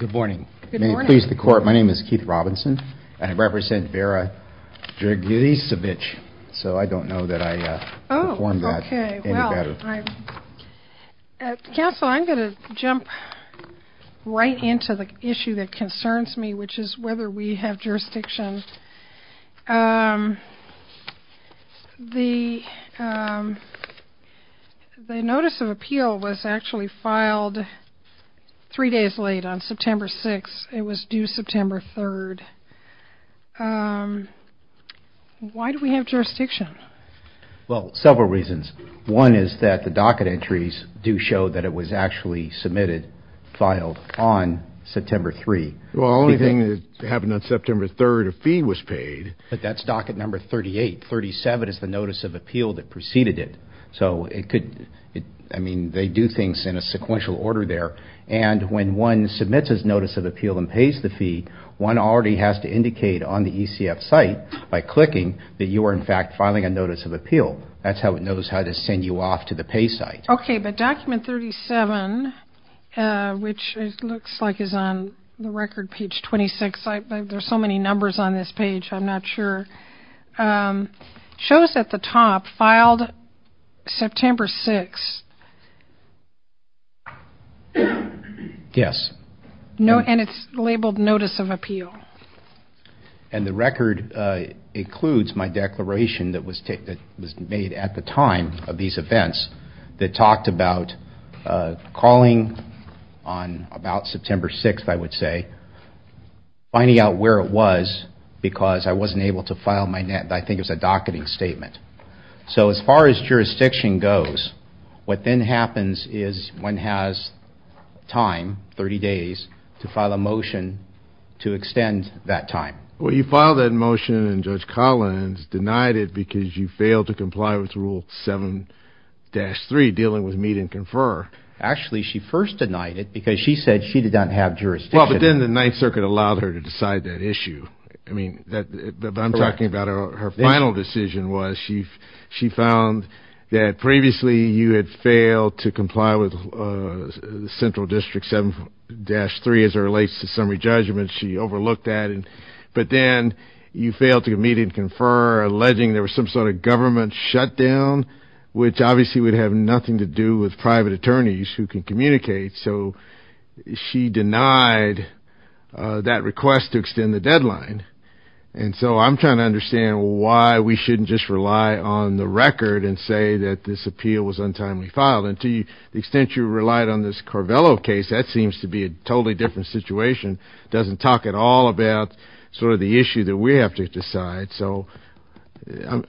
Good morning. May it please the Court, my name is Keith Robinson and I represent Vera Dragicevich, so I don't know that I performed that any better. Counsel, I'm going to jump right into the issue that concerns me, which is whether we have jurisdiction. The Notice of Appeal was actually filed three years ago, and it was three days late on September 6th, it was due September 3rd. Why do we have jurisdiction? Well several reasons. One is that the docket entries do show that it was actually submitted, filed on September 3rd. Well the only thing that happened on September 3rd, a fee was paid. But that's docket number 38. 37 is the Notice of Appeal that preceded it. So it could, I could do things in a sequential order there, and when one submits his Notice of Appeal and pays the fee, one already has to indicate on the ECF site, by clicking, that you are in fact filing a Notice of Appeal. That's how it knows how to send you off to the pay site. Okay, but document 37, which looks like is on the record page 26, there's so many numbers on this page, I'm not sure, shows at the top, filed September 6th. Yes. And it's labeled Notice of Appeal. And the record includes my declaration that was made at the time of these events that talked about calling on about September 6th, I would say, finding out where it was because I wasn't able to file my, I think it was a docketing statement. So as far as jurisdiction goes, what then happens is one has time, 30 days, to file a motion to extend that time. Well, you filed that motion and Judge Collins denied it because you failed to comply with Rule 7-3, dealing with meet and confer. Actually, she first denied it because she said she didn't have jurisdiction. Well, but then the Ninth Circuit allowed her to decide that issue. I mean, I'm talking about her final decision was she found that previously you had failed to comply with Central District 7-3 as it relates to summary judgment. She overlooked that. But then you failed to meet and confer, alleging there was some sort of government shutdown, which obviously would have nothing to do with private attorneys who can communicate. So she denied that request to extend the deadline. And so I'm trying to understand why we shouldn't just rely on the record and say that this appeal was untimely filed. And to the extent you relied on this Corvello case, that seems to be a totally different situation. It doesn't talk at all about sort of the issue that we have to decide. So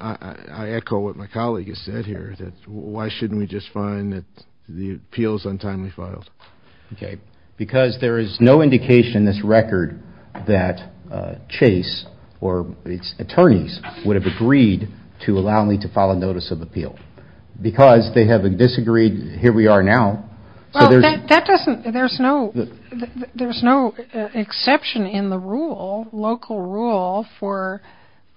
I echo what my colleague has said here, why shouldn't we just find that the appeal is untimely filed? Okay. Because there is no indication in this record that Chase or its attorneys would have agreed to allow me to file a notice of appeal. Because they have a disagreed, here we are now. Well, that doesn't, there's no, there's no exception in the rule, local rule for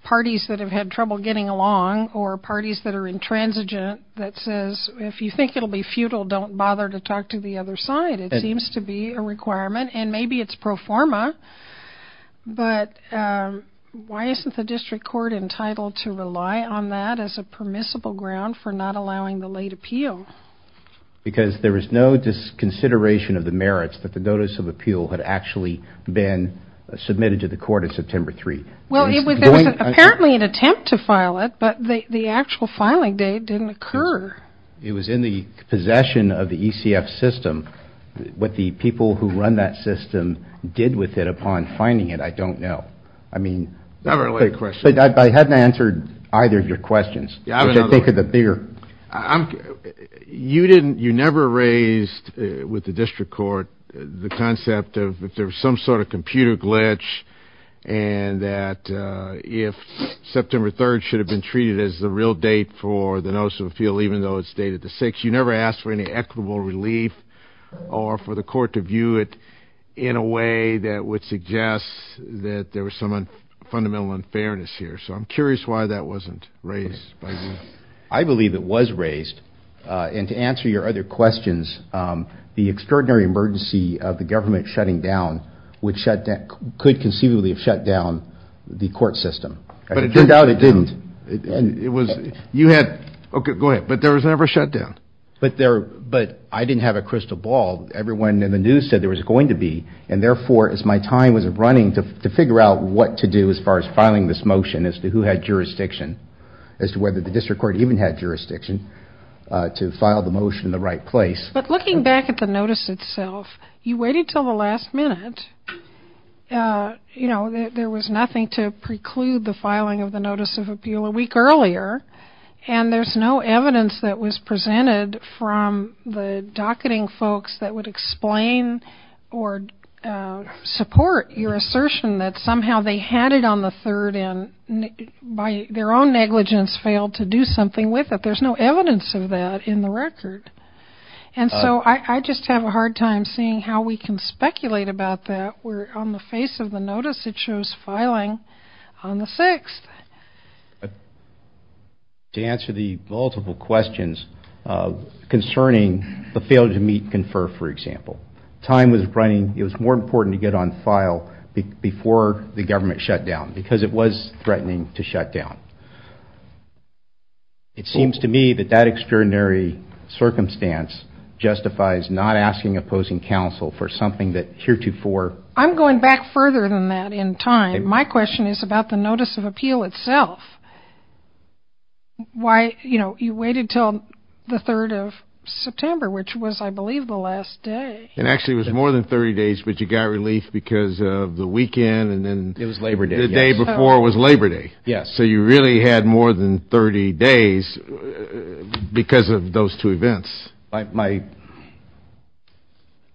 parties that have had trouble getting along or parties that are intransigent that says, if you think it'll be futile, don't bother to talk to the other side. It seems to be a requirement and maybe it's pro forma, but why isn't the district court entitled to rely on that as a permissible ground for not allowing the late appeal? Because there was no dis-consideration of the merits that the notice of appeal had actually been submitted to the court in September 3. Well, it was, there was apparently an attempt to file it, but the actual filing date didn't occur. It was in the possession of the ECF system. What the people who run that system did with it upon finding it, I don't know. I mean, I haven't answered either of your questions. You didn't, you never raised with the district court the concept of if there was some sort of computer glitch and that if September 3 should have been treated as the real date for the notice of appeal, even though it's dated the 6th. You never asked for any equitable relief or for the court to view it in a way that would suggest that there was some fundamental unfairness here. So I'm curious why that wasn't raised by you. I believe it was raised, and to answer your other questions, the extraordinary emergency of the government shutting down would shut down, could conceivably have shut down the court system, but it turned out it didn't. It was, you had, okay, go ahead, but there was never a shutdown. But there, but I didn't have a crystal ball. Everyone in the news said there was going to be, and therefore, as my time was running to figure out what to do as far as filing this motion as to who had jurisdiction, as to whether the district court even had jurisdiction to file the motion in the right place. But looking back at the notice itself, you waited until the last minute. You know, there was nothing to preclude the filing of the notice of appeal a week earlier, and there's no evidence that was presented from the docketing folks that would explain or support your assertion that somehow they had it on the 3rd and by their own negligence failed to do something with it. There's no evidence of that in the record. And so I just have a hard time seeing how we can speculate about that where on the face of the notice it shows filing on the 6th. To answer the multiple questions concerning the failure to meet, confer, for example. Time was running, it was more important to get on file before the government shut down because it was threatening to shut down. It seems to me that that extraordinary circumstance justifies not asking opposing counsel for something that heretofore. I'm going back further than that in time. My question is about the notice of appeal itself. Why, you know, you waited until the 3rd of September, which was I believe the last day. And actually it was more than 30 days, but you got relief because of the weekend and then the day before was Labor Day. Yes. So you really had more than 30 days because of those two events. Yes.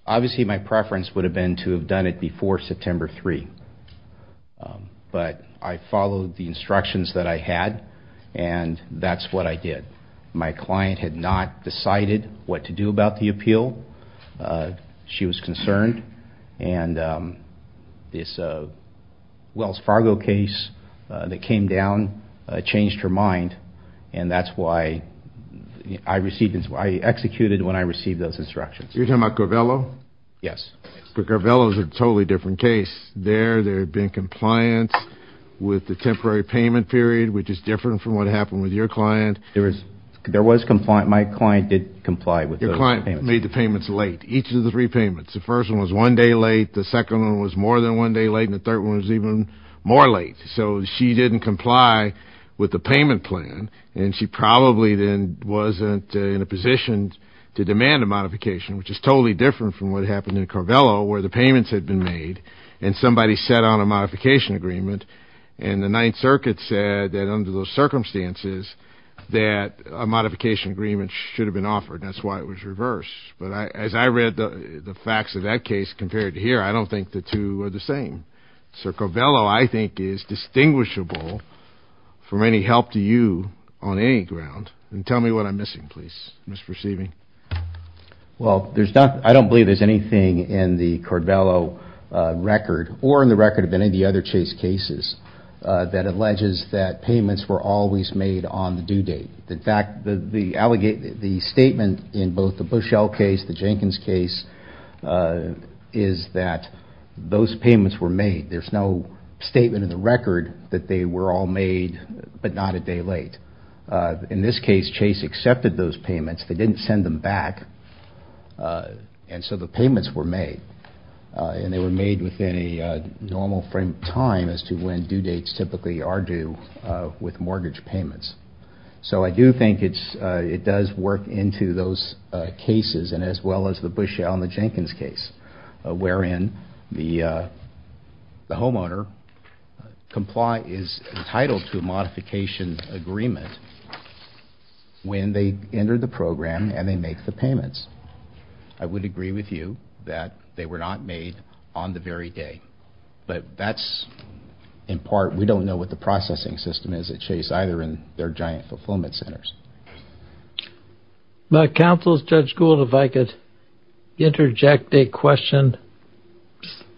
Obviously my preference would have been to have done it before September 3. But I followed the instructions that I had and that's what I did. My client had not decided what to do about the appeal. She was concerned and this Wells Fargo case that came down changed her mind and that's why I executed when I received those instructions. You're talking about Garvello? Yes. Garvello is a totally different case. There, there had been compliance with the temporary payment period, which is different from what happened with your client. There was compliance. My client did comply with those payments. Your client made the payments late. Each of the three payments. The first one was one day late, the second one was more than one day late and the third one was even more late. So she didn't comply with the payment plan and she probably then wasn't in a position to demand a modification, which is totally different from what happened in Garvello where the payments had been made and somebody set on a modification agreement and the Ninth Circuit said that under those circumstances that a modification agreement should have been offered and that's why it was reversed. But as I read the facts of that case compared to here, I don't think the two are the same. So Garvello, I think, is distinguishable from any help to you on any ground and tell me what I'm missing, please. I'm misperceiving. Well, there's not, I don't believe there's anything in the Garvello record or in the record of any of the other Chase cases that alleges that payments were always made on the due date. In fact, the, the allegate, the statement in both the Bushell case, the day, there's no statement in the record that they were all made but not a day late. In this case, Chase accepted those payments, they didn't send them back and so the payments were made and they were made within a normal frame of time as to when due dates typically are due with mortgage payments. So I do think it's, it does work into those cases and as well as the Bushell and the Jenkins case wherein the homeowner comply, is entitled to a modification agreement when they enter the program and they make the payments. I would agree with you that they were not made on the very day but that's in part, we don't know what the processing system is at Chase either in their giant fulfillment centers. My counsel is Judge Gould, if I could interject a question,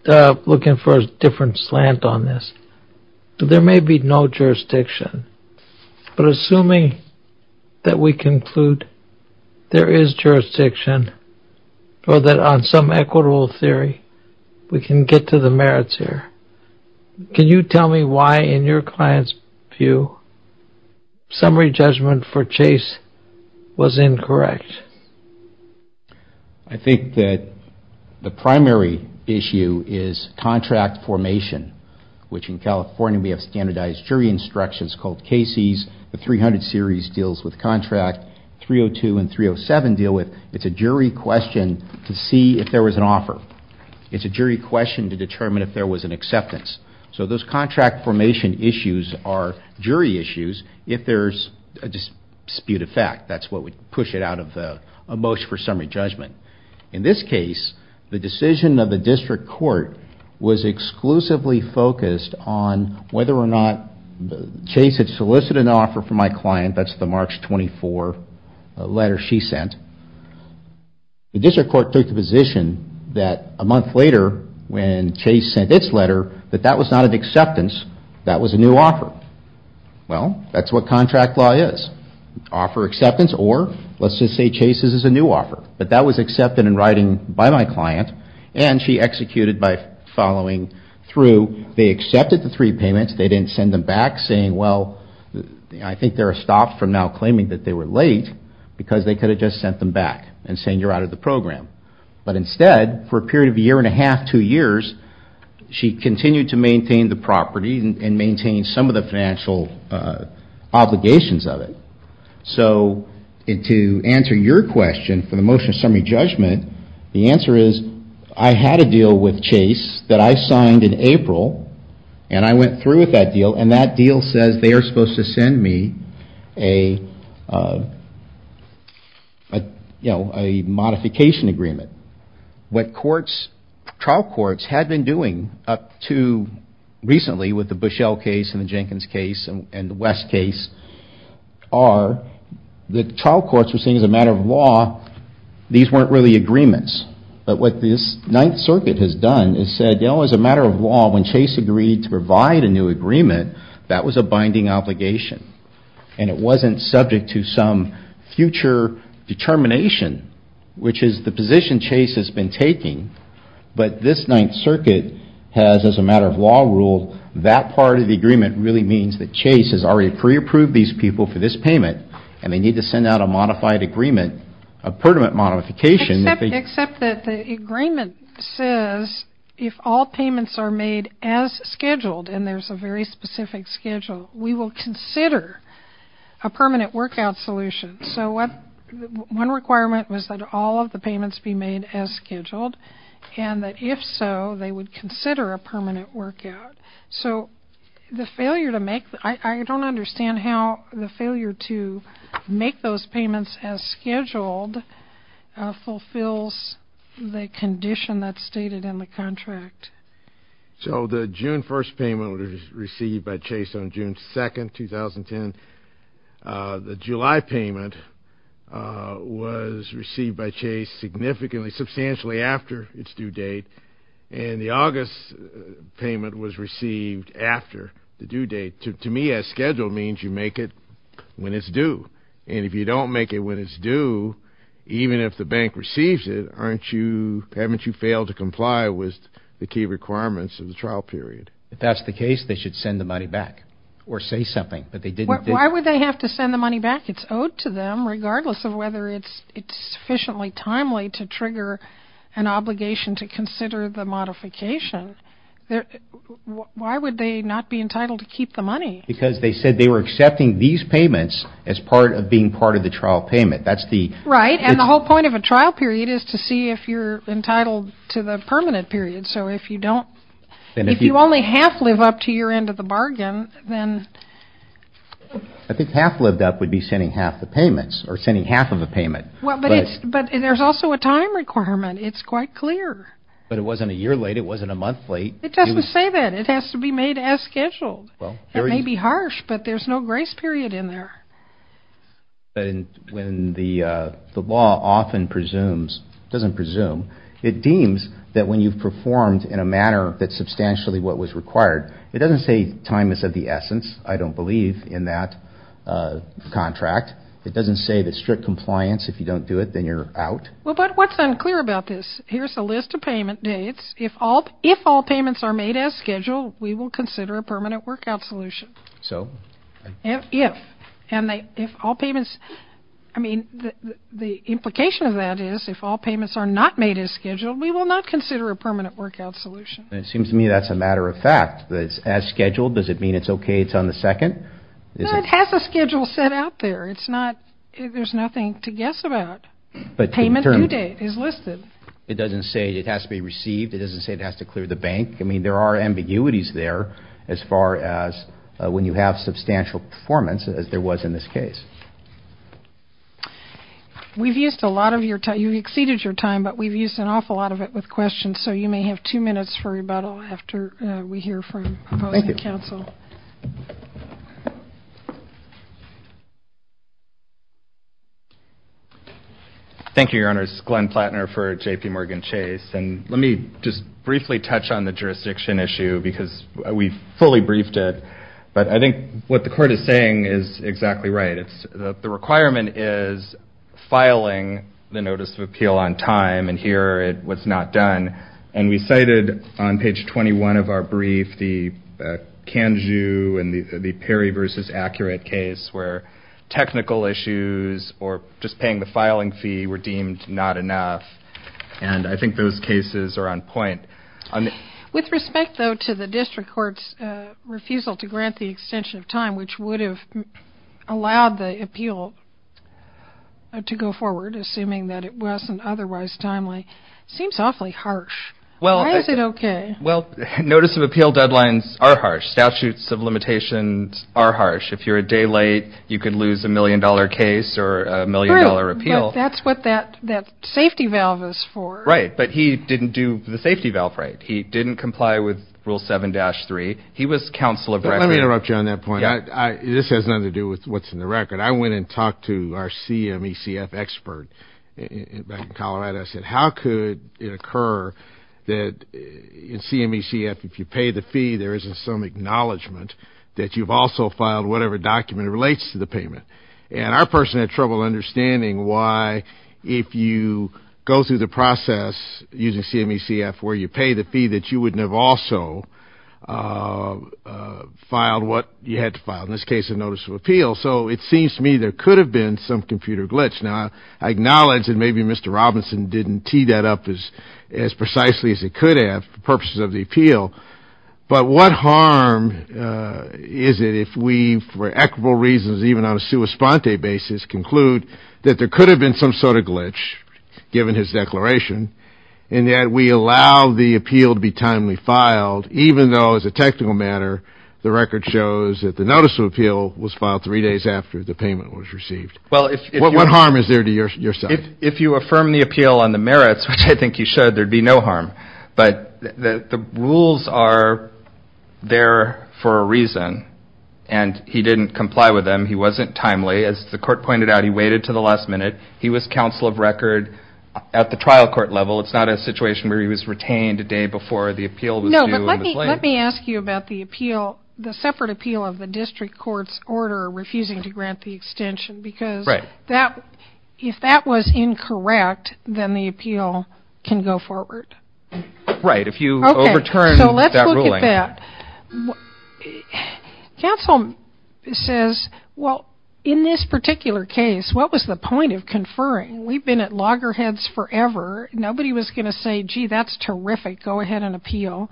looking for a different slant on this. There may be no jurisdiction but assuming that we conclude there is jurisdiction or that on some equitable theory, we can get to the merits here. Can you tell me why in your client's view, summary judgment for Chase was incorrect? I think that the primary issue is contract formation which in California we have standardized jury instructions called cases, the 300 series deals with contract, 302 and 307 deal with, it's a jury question to see if there was an offer. It's a jury question to determine if there was an acceptance. So those contract formation issues are jury issues if there's a dispute of fact. That's what would push it out of the motion for summary judgment. In this case, the decision of the district court was exclusively focused on whether or not Chase had solicited an offer from my client, that's the March 24 letter she sent. The district court took the position that a month later when Chase sent its letter, that that was not an acceptance, that was a new offer. Well, that's what contract law is. Offer acceptance or let's just say Chase's is a new offer. But that was accepted in writing by my client and she executed by following through. They accepted the three payments, they didn't send them back saying well, I think they're stopped from now claiming that they were late because they could have just sent them back and saying you're out of the program. But instead, for a period of a year and a half, two years, she continued to maintain the property and maintain some of the financial obligations of it. So to answer your question for the motion of summary judgment, the answer is I had a deal with Chase that I signed in April and I went through with that deal and that deal says they are supposed to send me a modification agreement. What trial courts had been doing up to recently with the Bushell case and the Jenkins case and the West case are the trial courts were saying as a matter of law these weren't really agreements. But what this Ninth Circuit has done is said, you know, as a matter of law, when Chase agreed to provide a new agreement, that was a binding obligation. And it wasn't subject to some future determination, which is the position Chase has been taking. But this Ninth Circuit has, as a matter of law, ruled that part of the agreement really means that Chase has already pre-approved these people for this payment and they need to send out a modified agreement, a pertinent modification. Except that the agreement says if all payments are made as scheduled and there's a very specific schedule, we will consider a permanent workout solution. So one requirement was that all of the payments be made as scheduled and that if so, they would consider a permanent workout. So the failure to make, I don't understand how the failure to make those payments as scheduled fulfills the condition that's stated in the contract. So the June 1st payment was received by Chase on June 2nd, 2010. The July payment was received by Chase significantly, substantially after its due date. And the August payment was received after the due date. To me, as scheduled means you make it when it's due. And if you don't make it when it's due, even if the bank receives it, aren't you, haven't you failed to comply with the key requirements of the trial period? If that's the case, they should send the money back. Or say something. But they didn't. Why would they have to send the money back? It's owed to them regardless of whether it's sufficiently timely to trigger an obligation to consider the modification. Why would they not be entitled to keep the money? Because they said they were accepting these payments as part of being part of the trial payment. That's the... Right. And the whole point of a trial period is to see if you're entitled to the permanent period. So if you don't, if you only half live up to your end of the bargain, then... I think half lived up would be sending half the payments. Or sending half of a payment. But there's also a time requirement. It's quite clear. But it wasn't a year late. It wasn't a month late. It doesn't say that. It has to be made as scheduled. It may be harsh, but there's no grace period in there. When the law often presumes, doesn't presume, it deems that when you've performed in a manner that's substantially what was required, it doesn't say time is of the essence. I don't believe in that contract. It doesn't say that strict compliance, if you don't do it, then you're out. Well, but what's unclear about this? Here's a list of payment dates. If all payments are made as scheduled, we will consider a permanent workout solution. So? If. And if all payments... I mean, the implication of that is if all payments are not made as scheduled, we will not consider a permanent workout solution. It seems to me that's a matter of fact. As scheduled, does it mean it's okay it's on the second? No, it has a schedule set out there. It's not... There's nothing to guess about. Payment due date is listed. It doesn't say it has to be received. It doesn't say it has to clear the bank. I mean, there are ambiguities there as far as when you have substantial performance as there was in this case. We've used a lot of your time. You've exceeded your time, but we've used an awful lot of it with questions. So you may have two minutes for rebuttal after we hear from opposing counsel. Thank you. Thank you, Your Honors. Glenn Platner for JPMorgan Chase. And let me just briefly touch on the jurisdiction issue because we've fully briefed it. But I think what the court is saying is exactly right. The requirement is filing the Notice of Appeal on time, and here it was not done. And we cited on page 21 of our brief the Kanju and the Perry v. Accurate case where technical issues or just paying the filing fee were deemed not enough. And I think those cases are on point. With respect, though, to the district court's refusal to grant the extension of time, which would have allowed the appeal to go forward, assuming that it wasn't otherwise timely, seems awfully harsh. Why is it okay? Well, Notice of Appeal deadlines are harsh. Statutes of limitations are harsh. If you're a day late, you could lose a million-dollar case or a million-dollar appeal. That's what that safety valve is for. Right. But he didn't do the safety valve right. He didn't comply with Rule 7-3. He was counsel of record. Let me interrupt you on that point. This has nothing to do with what's in the record. I went and talked to our CMECF expert back in Colorado. I said, how could it occur that in CMECF, if you pay the fee, there isn't some acknowledgment that you've also filed whatever document relates to the payment? And our person had trouble understanding why, if you go through the process using CMECF, where you pay the fee, that you wouldn't have also filed what you had to file, in this case, a Notice of Appeal. So it seems to me there could have been some computer glitch. Now, I acknowledge that maybe Mr. Robinson didn't tee that up as precisely as he could have for purposes of the appeal, but what harm is it if we, for equitable reasons, even on a sua sponte basis, conclude that there could have been some sort of glitch, given his declaration, and yet we allow the appeal to be timely filed, even though, as a technical matter, the record shows that the Notice of Appeal was filed three days after the payment was received. What harm is there to your side? If you affirm the appeal on the merits, which I think you should, there'd be no harm. But the rules are there for a reason, and he didn't comply with them. He wasn't timely. As the court pointed out, he waited to the last minute. He was counsel of record at the trial court level. It's not a situation where he was retained a day before the appeal was due and was late. No, but let me ask you about the separate appeal of the district court's order refusing to grant the extension, because if that was incorrect, then the appeal can go forward. Right, if you overturn that ruling. Okay, so let's look at that. Counsel says, well, in this particular case, what was the point of conferring? We've been at loggerheads forever. Nobody was going to say, gee, that's terrific, go ahead and appeal.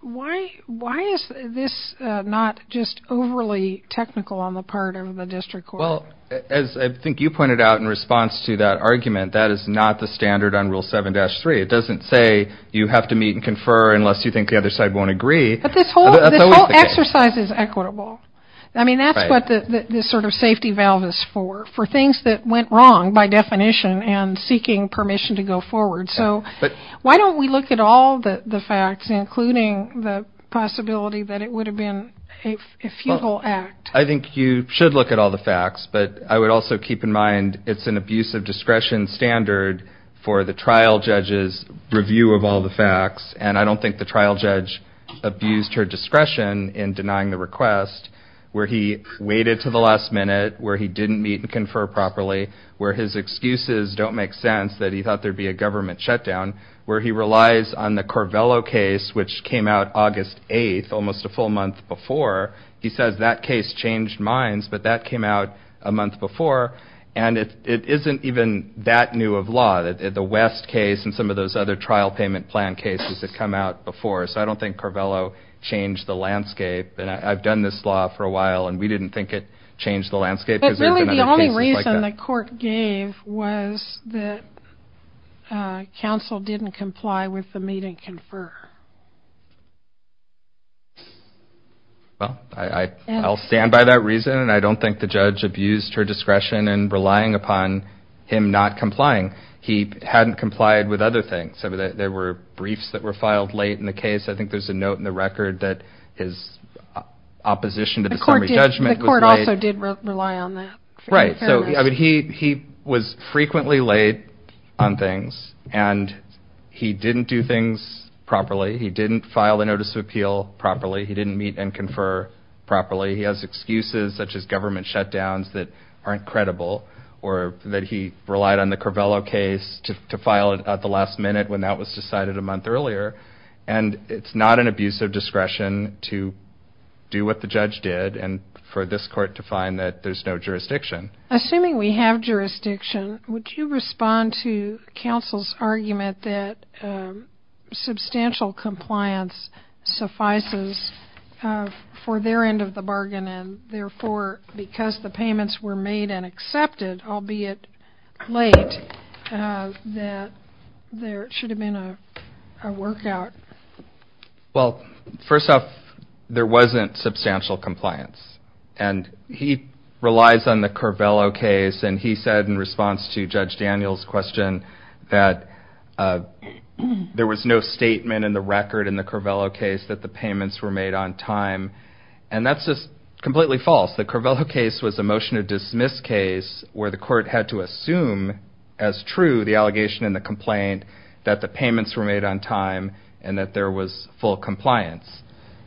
Why is this not just overly technical on the part of the district court? Well, as I think you pointed out in response to that argument, that is not the standard on Rule 7-3. It doesn't say you have to meet and confer unless you think the other side won't agree. But this whole exercise is equitable. I mean, that's what this sort of safety valve is for, for things that went wrong by definition and seeking permission to go forward. So why don't we look at all the facts, including the possibility that it would have been a futile act? I think you should look at all the facts, but I would also keep in mind it's an abuse of discretion standard for the trial judge's review of all the facts, and I don't think the trial judge abused her discretion in denying the request, where he waited to the last minute, where he didn't meet and confer properly, where his excuses don't make sense that he thought there'd be a government shutdown, where he relies on the Corvello case, which came out August 8th, almost a full month before. He says that case changed minds, but that came out a month before, and it isn't even that new of law, that the West case and some of those other trial payment plan cases that come out before. So I don't think Corvello changed the landscape, and I've done this law for a while, and we didn't think it changed the landscape, because there's been other cases like that. But really the only reason the court gave was that counsel didn't comply with the meet and confer. Well, I'll stand by that reason, and I don't think the judge abused her discretion in relying upon him not complying. He hadn't complied with other things. There were briefs that were filed late in the case. I think there's a note in the record that his opposition to the summary judgment was late. The court also did rely on that. Right. He was frequently late on things, and he didn't do things properly. He didn't file the notice of appeal properly. He didn't meet and confer properly. He has excuses such as government shutdowns that aren't credible, or that he relied on the Corvello case to file it at the last minute when that was decided a month earlier, and it's not an abuse of jurisdiction. Assuming we have jurisdiction, would you respond to counsel's argument that substantial compliance suffices for their end of the bargain, and therefore, because the payments were made and accepted, albeit late, that there should have been a workout? Well, first off, there wasn't substantial compliance, and he relies on the Corvello case, and he said in response to Judge Daniel's question that there was no statement in the record in the Corvello case that the payments were made on time, and that's just completely false. The Corvello case was a motion to dismiss case where the court had to assume as true the allegation and the complaint that the payments were made on time and that there was full compliance.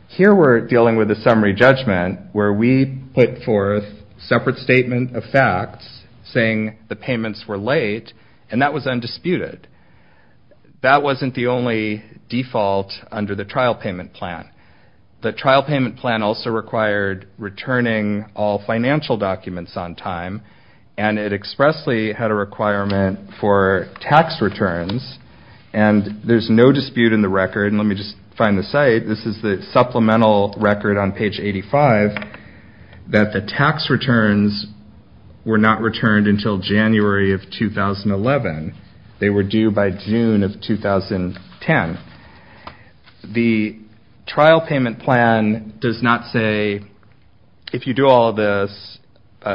Here we're dealing with a summary judgment where we put forth separate statement of facts saying the payments were late, and that was undisputed. That wasn't the only default under the trial payment plan. The trial payment plan also required returning all financial or tax returns, and there's no dispute in the record, and let me just find the site. This is the supplemental record on page 85, that the tax returns were not returned until January of 2011. They were due by June of 2010. The trial payment plan does not say, if you do all of this,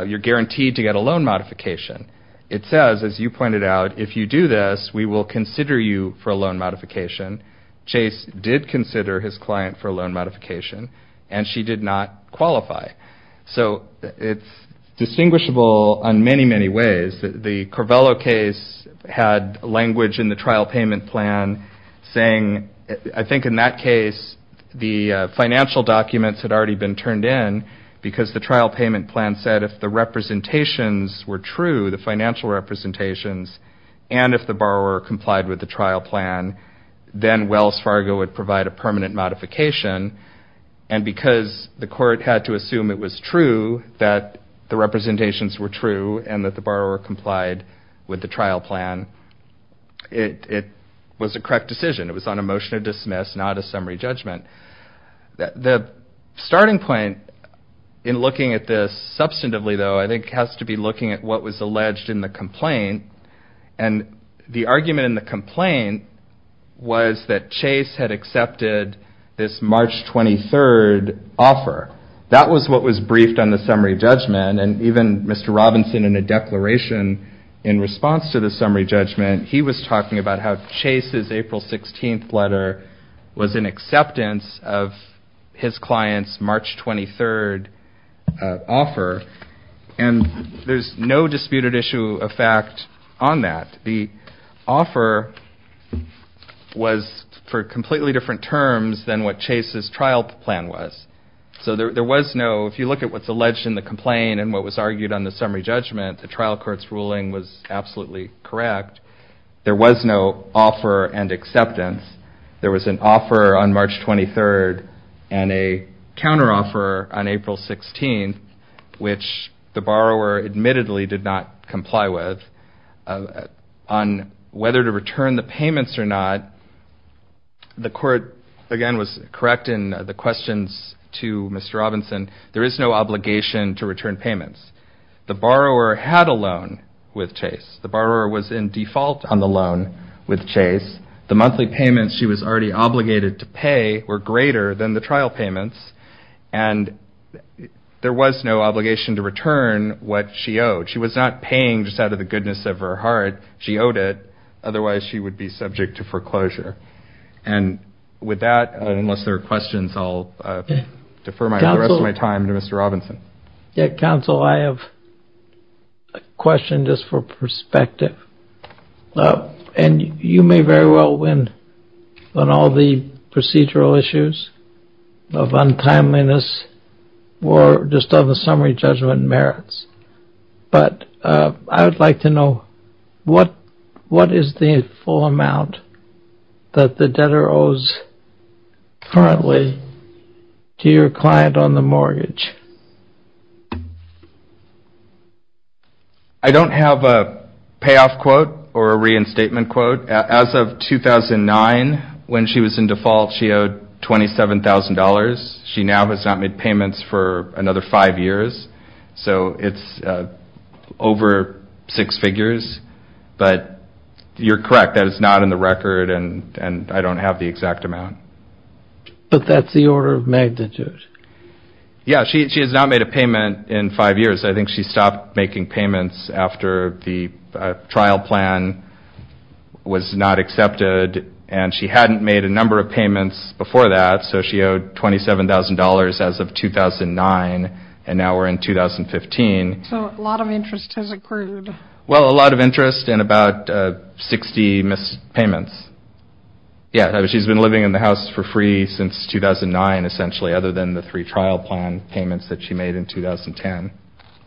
you're guaranteed to get a loan modification. It says, as you pointed out, if you do this, we will consider you for a loan modification. Chase did consider his client for a loan modification, and she did not qualify. So it's distinguishable on many, many ways. The Corvello case had language in the trial payment plan saying, I think in that case, the financial documents had already been turned in, because the trial payment plan said, if the representations were true, the financial representations, and if the borrower complied with the trial plan, then Wells Fargo would provide a permanent modification, and because the court had to assume it was true, that the representations were true, and that the borrower complied with the trial plan, it was a correct decision. It was on a motion of dismiss, not a summary judgment. The starting point in looking at this substantively, though, I think has to be looking at what was alleged in the complaint, and the argument in the complaint was that Chase had accepted this March 23rd offer. That was what was briefed on the summary judgment, and even Mr. Robinson, in a declaration in response to the summary judgment, he was talking about how Chase's April 16th letter was an acceptance of his client's March 23rd offer, and there's no disputed issue of fact on that. The offer was for completely different terms than what Chase's trial plan was. So there was no, if you look at what's alleged in the complaint and what was argued on the summary judgment, the trial court's ruling was absolutely correct. There was no offer and acceptance. There was an offer on March 23rd and a counteroffer on April 16th, which the borrower admittedly did not comply with. On whether to return the payments or not, the court, again, was correct in the questions to Mr. Robinson. There is no obligation to return payments. The borrower had a loan with Chase. The borrower was in default on the loan with Chase. The monthly payments she was already obligated to pay were greater than the trial payments, and there was no obligation to return what she owed. She was not paying just out of the goodness of her heart. She owed it. Otherwise, she would be subject to foreclosure. And with that, unless there are questions, I'll defer the rest of my time to Mr. Robinson. Counsel, I have a question just for perspective. And you may very well win on all the procedural issues of untimeliness or just on the summary judgment merits. But I would like to know what is the full amount that the debtor owes currently to your client on the mortgage? I don't have a payoff quote or a reinstatement quote. As of 2009, when she was in default, she owed $27,000. She now has not made payments for another five years. So it's over six figures. But you're correct, that is not in the record, and I don't have the exact amount. But that's the order of magnitude. Yeah, she has not made a payment in five years. I think she stopped making payments after the trial plan was not accepted, and she hadn't made a number of payments before that. So she owed $27,000 as of 2009, and now we're in 2015. So a lot of interest has accrued. Well, a lot of interest and about 60 missed payments. Yeah, she's been living in the house for free since 2009, essentially, other than the three trial plan payments that she made in 2010,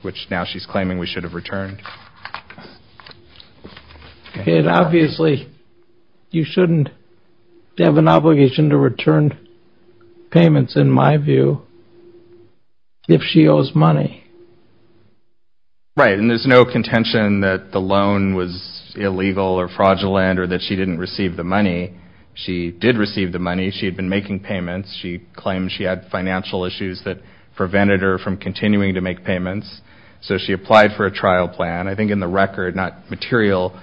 which now she's claiming we should have returned. And obviously, you shouldn't have an obligation to return payments, in my view, if she owes money. Right, and there's no contention that the loan was illegal or fraudulent or that she didn't receive the money. She did receive the money. She had been making payments. She had financial issues that prevented her from continuing to make payments. So she applied for a trial plan. I think in the record, not material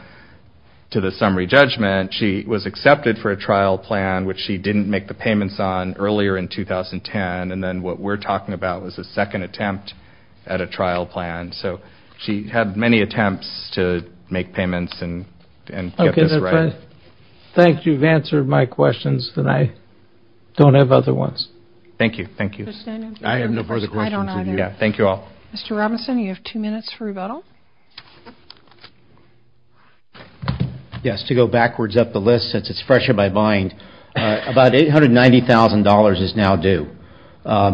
to the summary judgment, she was accepted for a trial plan, which she didn't make the payments on earlier in 2010. And then what we're talking about was a second attempt at a trial plan. So she had many attempts to make payments and get this right. Well, if I think you've answered my questions, then I don't have other ones. Thank you. Thank you. I have no further questions. I don't either. Yeah, thank you all. Mr. Robinson, you have two minutes for rebuttal. Yes, to go backwards up the list since it's fresher by mind, about $890,000 is now due.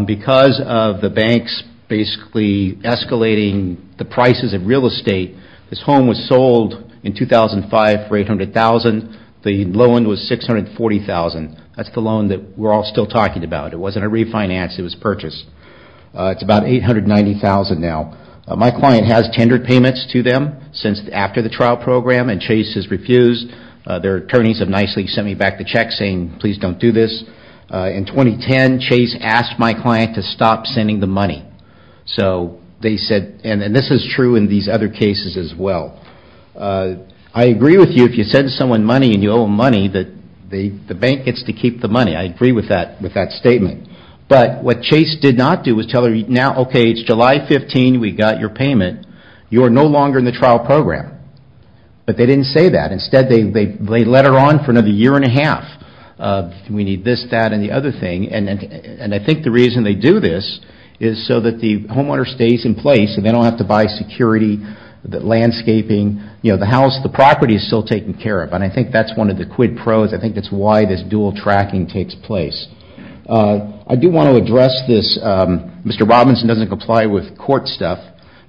Because of the banks basically escalating the prices of real estate, this home was sold in 2005 for $800,000. The loan was $640,000. That's the loan that we're all still talking about. It wasn't a refinance. It was purchased. It's about $890,000 now. My client has tendered payments to them since after the trial program and Chase has refused. Their attorneys have nicely sent me back the check saying, please don't do this. In 2010, Chase asked my client to stop sending the money. So they said, and this is true in these other cases as well. I agree with you if you send someone money and you owe them money that the bank gets to keep the money. I agree with that statement. But what Chase did not do was tell her, now, okay, it's July 15, we got your payment. You are no longer in the trial program. But they didn't say that. Instead, they let her on for another year and a half. We need this, that, and the other thing. And I think the reason they do this is so that the homeowner stays in place and they don't have to buy security, landscaping. The house, the property is still taken care of. And I think that's one of the quid pros. I think that's why this dual tracking takes place. I do want to address this Mr. Robinson doesn't comply with court stuff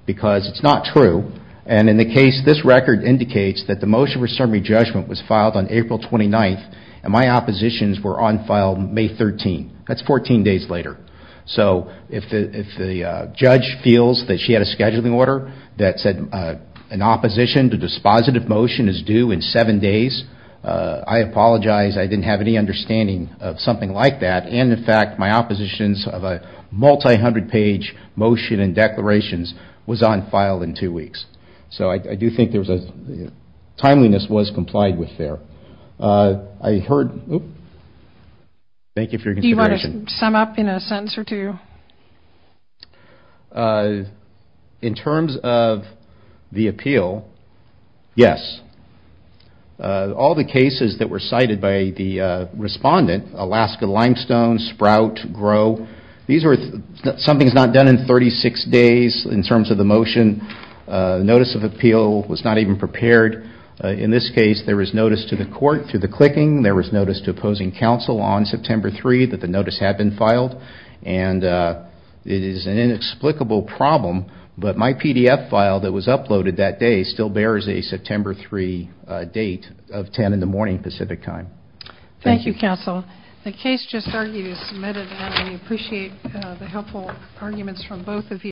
because it's not true. And in the case, this record indicates that the motion for summary judgment was filed on April 29. And my oppositions were on file May 13. That's 14 days later. So if the judge feels that she had a scheduling order that said an opposition to dispositive motion is due in seven days, I apologize, I didn't have any understanding of something like that. And in fact, my oppositions of a multi-hundred page motion and declarations was on file in two weeks. So I do think timeliness was complied with there. Thank you for your consideration. Do you want to sum up in a sentence or two? In terms of the appeal, yes. All the cases that were cited by the respondent, Alaska Limestone, Sprout, Grow, something's not done in 36 days in terms of the motion. Notice of appeal was not even prepared. In this case, there was notice to the court through the clicking. There was notice to opposing counsel on September 3 that the notice had been filed. And it is an inexplicable problem, but my PDF file that was uploaded that day still bears a September 3 date of 10 in the morning Pacific time. Thank you counsel. The case just argued is submitted and we appreciate the helpful arguments from both of you.